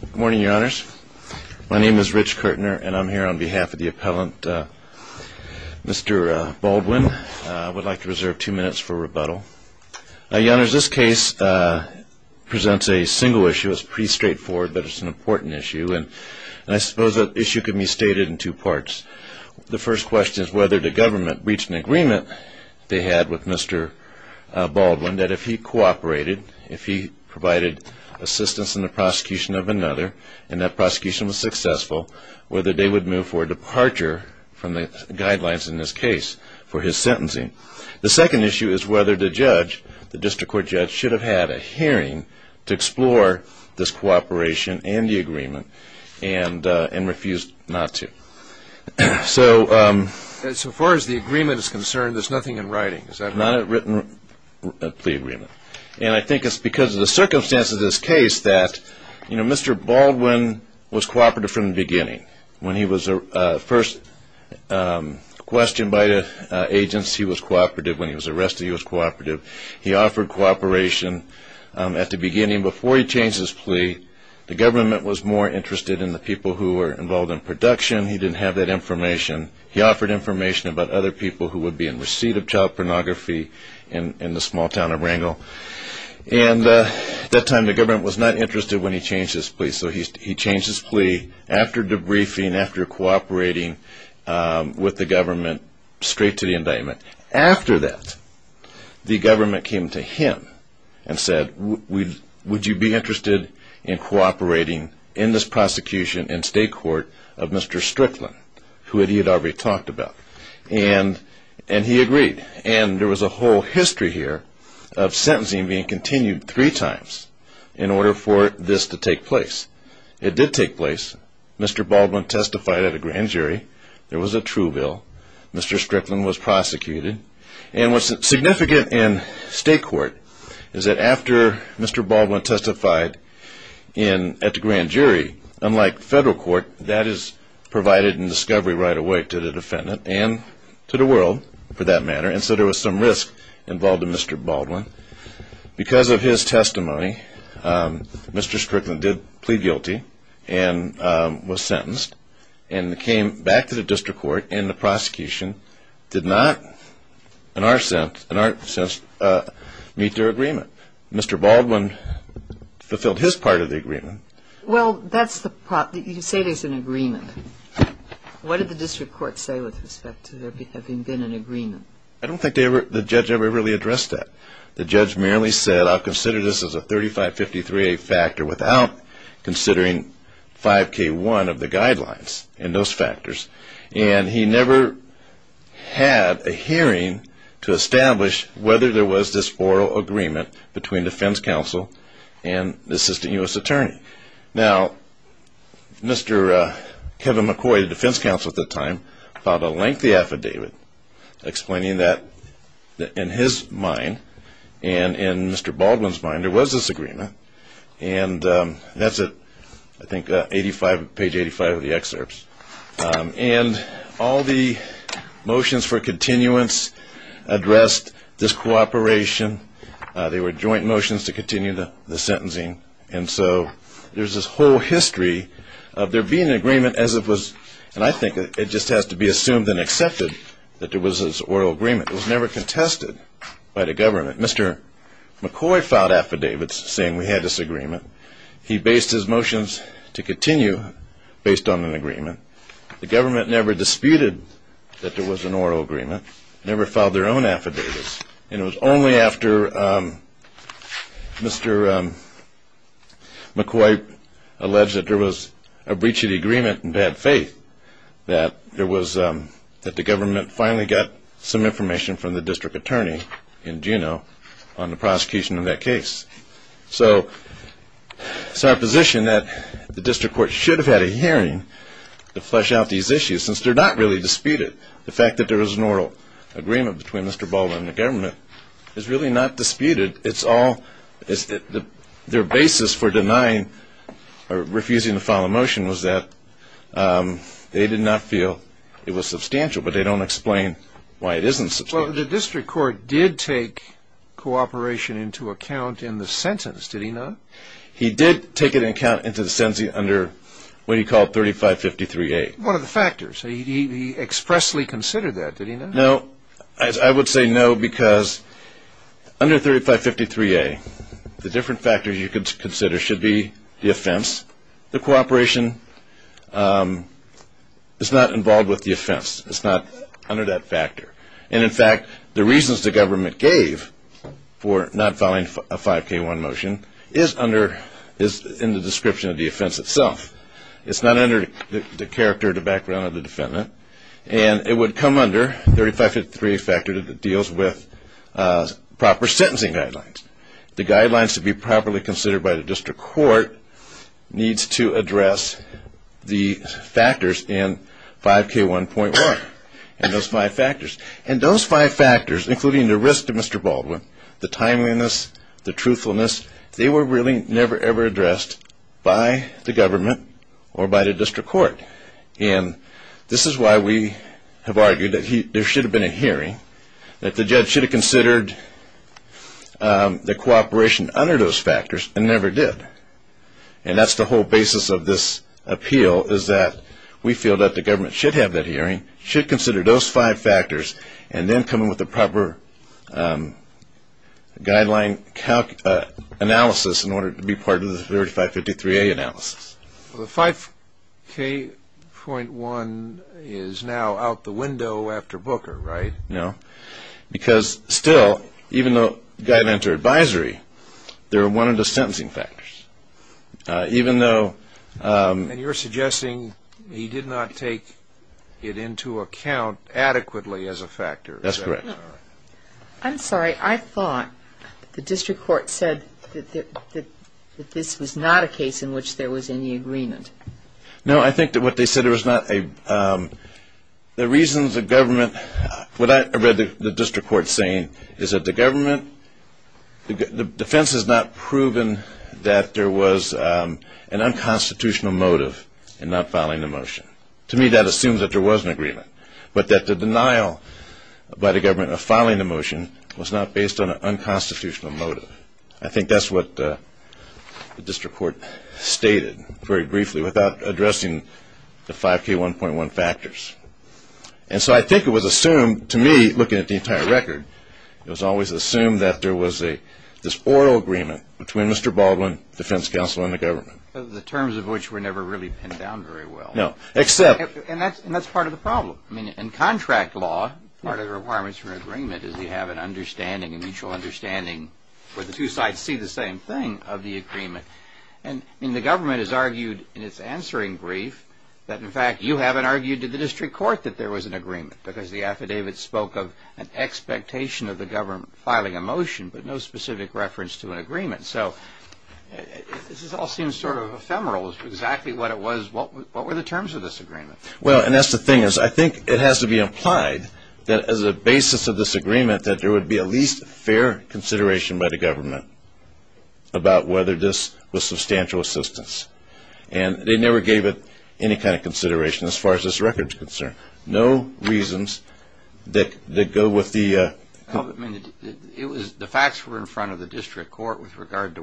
Good morning, your honors. My name is Rich Kertner and I'm here on behalf of the appellant Mr. Baldwin. I would like to reserve two minutes for rebuttal. Your honors, this case presents a single issue. It's pretty straightforward but it's an important issue and I suppose that issue can be stated in two parts. The first question is whether the government reached an agreement they had with Mr. if he provided assistance in the prosecution of another and that prosecution was successful, whether they would move for departure from the guidelines in this case for his sentencing. The second issue is whether the judge, the district court judge, should have had a hearing to explore this cooperation and the agreement and refused not to. So far as the agreement is concerned there's nothing in writing. Is that right? Not a written plea agreement. And I think it's because of the circumstances of this case that Mr. Baldwin was cooperative from the beginning. When he was first questioned by the agents he was cooperative. When he was arrested he was cooperative. He offered cooperation at the beginning before he changed his plea. The government was more interested in the people who were involved in production. He didn't have that information. He offered information about other people who would be in receipt of child pornography in the small town of Rangel. And at that time the government was not interested when he changed his plea. So he changed his plea after debriefing, after cooperating with the government straight to the indictment. After that the government came to him and said would you be interested in cooperating in this prosecution in state court of And he agreed. And there was a whole history here of sentencing being continued three times in order for this to take place. It did take place. Mr. Baldwin testified at a grand jury. There was a true bill. Mr. Strickland was prosecuted. And what's significant in state court is that after Mr. Baldwin testified at the grand jury, unlike federal court, that is provided in for that matter. And so there was some risk involved in Mr. Baldwin. Because of his testimony, Mr. Strickland did plead guilty and was sentenced and came back to the district court and the prosecution did not in our sense meet their agreement. Mr. Baldwin fulfilled his part of the agreement. Well, that's the problem. You say there's an agreement. What did the district court say with respect to there having been an agreement? I don't think the judge ever really addressed that. The judge merely said, I'll consider this as a 3553A factor without considering 5k1 of the guidelines and those factors. And he never had a hearing to establish whether there was this oral agreement between defense counsel and the assistant U.S. attorney. Now, Mr. Kevin McCoy, the defense counsel at the time, filed a lengthy affidavit explaining that in his mind and in Mr. Baldwin's mind, there was this agreement. And that's, I think, page 85 of the excerpts. And all the motions for continuance addressed this cooperation. They were joint motions to continue the And I think it just has to be assumed and accepted that there was this oral agreement. It was never contested by the government. Mr. McCoy filed affidavits saying we had this agreement. He based his motions to continue based on an agreement. The government never disputed that there was an oral agreement, never filed their own affidavits. And it was only after Mr. McCoy alleged that there was a breach of the agreement and bad faith that there was, that the government finally got some information from the district attorney in Juneau on the prosecution of that case. So it's our position that the district court should have had a hearing to flesh out these issues since they're not really disputed. The fact that there is an oral agreement between Mr. Baldwin and the government is really not disputed. It's all, it's their basis for denying or refusing to file a motion was that they did not feel it was substantial, but they don't explain why it isn't. Well, the district court did take cooperation into account in the sentence, did he not? He did take it into account into the sentence under what he called 3553A. One of the factors. He expressly considered that, did he not? No, I would say no, because under 3553A, the different factors you could consider should be the offense. The cooperation is not involved with the offense. It's not under that factor. And in fact, the reasons the government gave for not filing a 5K1 motion is under, is in the description of the offense itself. It's not under the character, the background of the defendant. And it would come under 3553A that deals with proper sentencing guidelines. The guidelines to be properly considered by the district court needs to address the factors in 5K1.1 and those five factors. And those five factors, including the risk to Mr. Baldwin, the timeliness, the truthfulness, they were really never, ever addressed by the government or by the district court. And this is why we have argued that there should have been a hearing, that the judge should have considered the cooperation under those factors and never did. And that's the whole basis of this appeal is that we feel that the government should have that hearing, should consider those five factors, and then come in with the proper guideline analysis in order to be part of the 3553A analysis. Well, the 5K.1 is now out the window after Booker, right? No. Because still, even though the guy had entered advisory, they were one of the sentencing factors. Even though... And you're suggesting he did not take it into account adequately as a factor. That's correct. I'm sorry. I thought the district court said that this was not a case in which there was any agreement. No. I think that what they said, there was not a... The reasons the government... What I read the district court saying is that the government... The defense has not proven that there was an unconstitutional motive in not filing the motion. To me, that assumes that there was an agreement, but that the denial by the government of filing the motion was not based on an unconstitutional motive. I think that's what the district court stated very briefly without addressing the 5K.1.1 factors. And so I think it was assumed, to me, looking at the entire record, it was always assumed that there was this oral agreement between Mr. Baldwin, defense counsel, and the government. The terms of which were never really pinned down very well. No. Except... And that's part of the problem. I mean, in contract law, part of the requirements for an agreement is you have an understanding, a mutual understanding, where the two sides see the same thing, of the agreement. And the government has argued in its answering brief that, in fact, you haven't argued to the district court that there was an agreement, because the affidavit spoke of an expectation of the government filing a motion, but no specific reference to an agreement. So this all seems sort of ephemeral, exactly what it was. What were the terms of this agreement? Well, and that's the thing is, I think it has to be implied that, as a basis of this agreement, that there would be at least fair consideration by the government about whether this was substantial assistance. And they never gave it any kind of consideration as far as this record is concerned. No reasons that go with the... Well, I mean, the facts were in front of the district court with regard to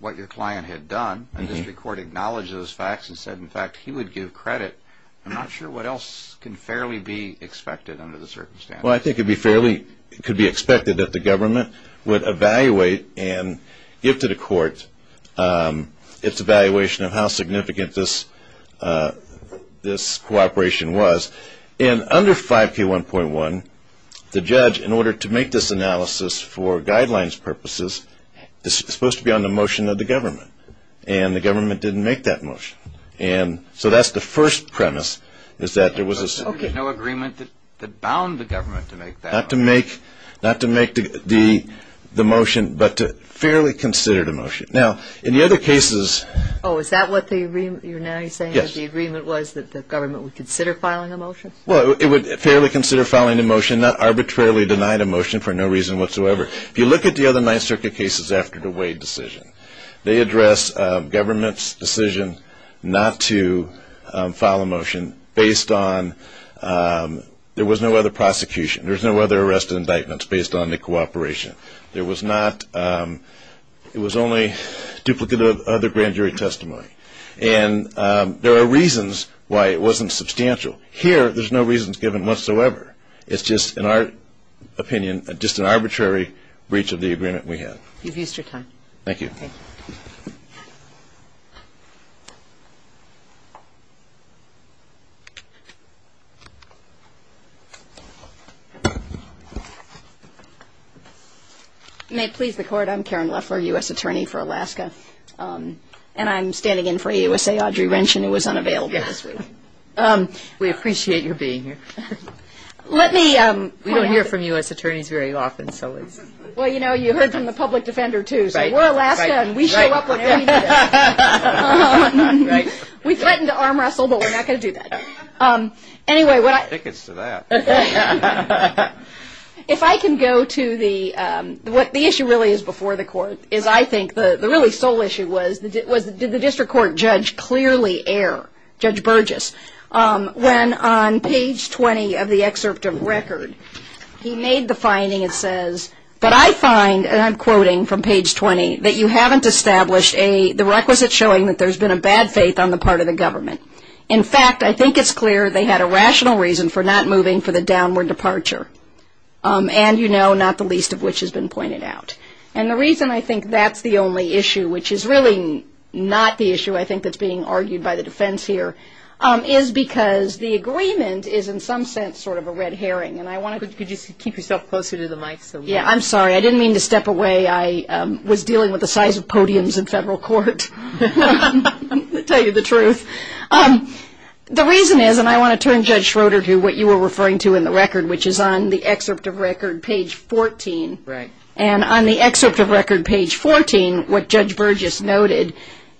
what your client had done, and the district court acknowledged those facts and said, in fact, he would give credit. I'm not sure what else can fairly be expected under the circumstances. Well, I think it could be expected that the government would evaluate and give to the court its evaluation of how significant this cooperation was. And under 5K1.1, the judge, in order to make this analysis for guidelines purposes, is supposed to be on the motion of the government. And the government didn't make that motion. And so that's the first premise, is that there was a... Okay. There was no agreement that bound the government to make that motion. Not to make the motion, but to fairly consider the motion. Now, in the other cases... Oh, is that what you're now saying, that the agreement was that the government would consider filing a motion? Well, it would fairly consider filing a motion, not arbitrarily deny the motion for no reason whatsoever. If you look at the other circuit cases after the Wade decision, they address government's decision not to file a motion based on... There was no other prosecution. There was no other arrest indictments based on the cooperation. There was not... It was only duplicate of other grand jury testimony. And there are reasons why it wasn't substantial. Here, there's no reasons given whatsoever. It's just, in our opinion... You've used your time. Thank you. You may please the court. I'm Karen Leffler, U.S. Attorney for Alaska. And I'm standing in for AUSA Audrey Wrench, who was unavailable this week. We appreciate your being here. Let me point out... We don't hear from U.S. Attorneys very often, so it's... Well, you know, you heard from the public defender, too. So, we're Alaska, and we show up whenever you need us. We threaten to arm wrestle, but we're not going to do that. Anyway, what I... Tickets to that. If I can go to the... What the issue really is before the court is, I think, the really sole issue was, did the district court judge clearly err? Judge Burgess. When on page 20 of the excerpt of record, he made the finding, it says, but I find, and I'm quoting from page 20, that you haven't established the requisite showing that there's been a bad faith on the part of the government. In fact, I think it's clear they had a rational reason for not moving for the downward departure. And, you know, not the least of which has been pointed out. And the reason I think that's the only issue, which is really not the issue, I think, that's being argued by the defense here, is because the agreement is in some sense sort of a red herring. And I want to... Could you just keep yourself closer to the mic? Yeah, I'm sorry. I didn't mean to step away. I was dealing with the size of podiums in federal court. I'm going to tell you the truth. The reason is, and I want to turn Judge Schroeder to what you were referring to in the record, which is on the excerpt of record, page 14. Right. And on the excerpt of record, page 14, what Judge Burgess noted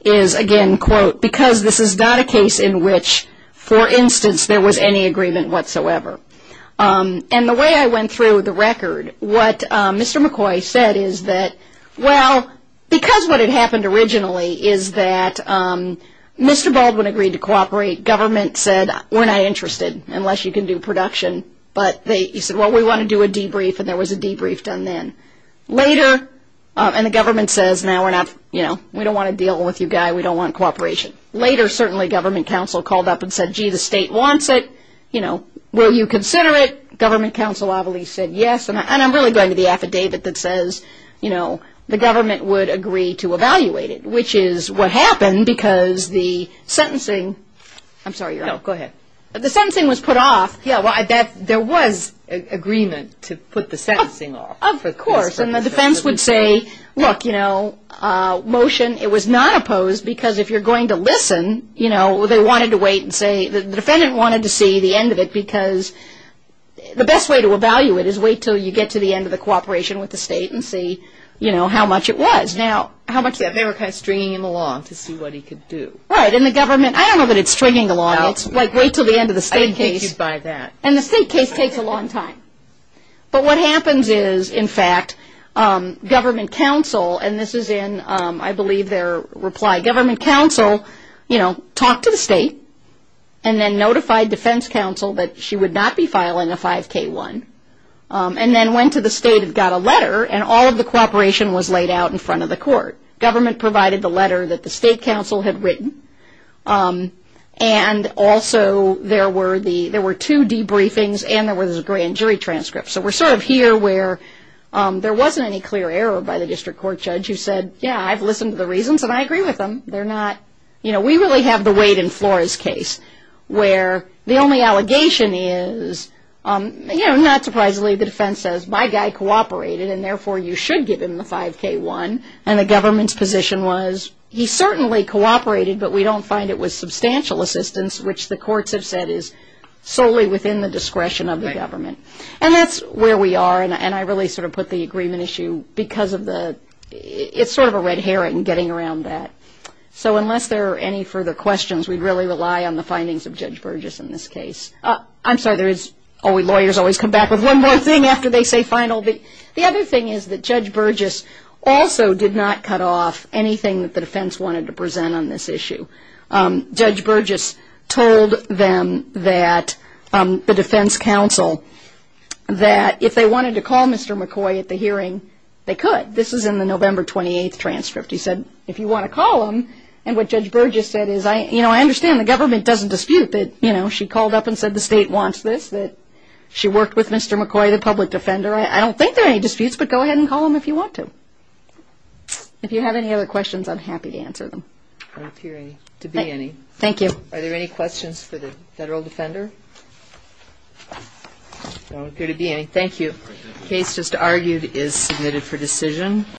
is, again, quote, because this is not a case in which, for example, and the way I went through the record, what Mr. McCoy said is that, well, because what had happened originally is that Mr. Baldwin agreed to cooperate. Government said, we're not interested unless you can do production. But he said, well, we want to do a debrief. And there was a debrief done then. Later, and the government says, no, we're not, you know, we don't want to deal with you guy. We don't want cooperation. Later, certainly, government counsel called up and said, gee, the state wants it. You know, will you consider it? Government counsel obviously said yes. And I'm really going to the affidavit that says, you know, the government would agree to evaluate it, which is what happened because the sentencing, I'm sorry, you're on. No, go ahead. The sentencing was put off. Yeah, well, I bet there was agreement to put the sentencing off. Of course. And the defense would say, look, you know, motion, it was not opposed because if you're going to The defendant wanted to see the end of it because the best way to evaluate it is wait until you get to the end of the cooperation with the state and see, you know, how much it was. Now, how much? They were kind of stringing him along to see what he could do. Right. And the government, I don't know that it's stringing along. It's like wait until the end of the state case. I think he's by that. And the state case takes a long time. But what happens is, in fact, government counsel, and this is in, I believe, their government counsel, you know, talked to the state and then notified defense counsel that she would not be filing a 5K1 and then went to the state and got a letter and all of the cooperation was laid out in front of the court. Government provided the letter that the state counsel had written. And also there were two debriefings and there was a grand jury transcript. So we're sort of here where there wasn't any clear error by the district court judge who said, yeah, I've listened to the two of them. They're not, you know, we really have the weight in Flora's case where the only allegation is, you know, not surprisingly the defense says my guy cooperated and therefore you should give him the 5K1. And the government's position was he certainly cooperated, but we don't find it was substantial assistance, which the courts have said is solely within the discretion of the government. And that's where we are. And I really sort of put the agreement issue because of the, it's sort of a red herring getting around that. So unless there are any further questions, we'd really rely on the findings of Judge Burgess in this case. I'm sorry, lawyers always come back with one more thing after they say final. The other thing is that Judge Burgess also did not cut off anything that the defense wanted to present on this issue. Judge Burgess told them that the defense counsel that if they wanted to call Mr. McCoy at the hearing, they could. This is in the November 28th transcript. He said if you want to call him, and what Judge Burgess said is, you know, I understand the government doesn't dispute that, you know, she called up and said the state wants this, that she worked with Mr. McCoy, the public defender. I don't think there are any disputes, but go ahead and call him if you want to. If you have any other questions, I'm happy to answer them. I don't appear to be any. Thank you. Are there any questions for the federal defender? I don't appear to be any. Thank you. The case just argued is submitted for decision.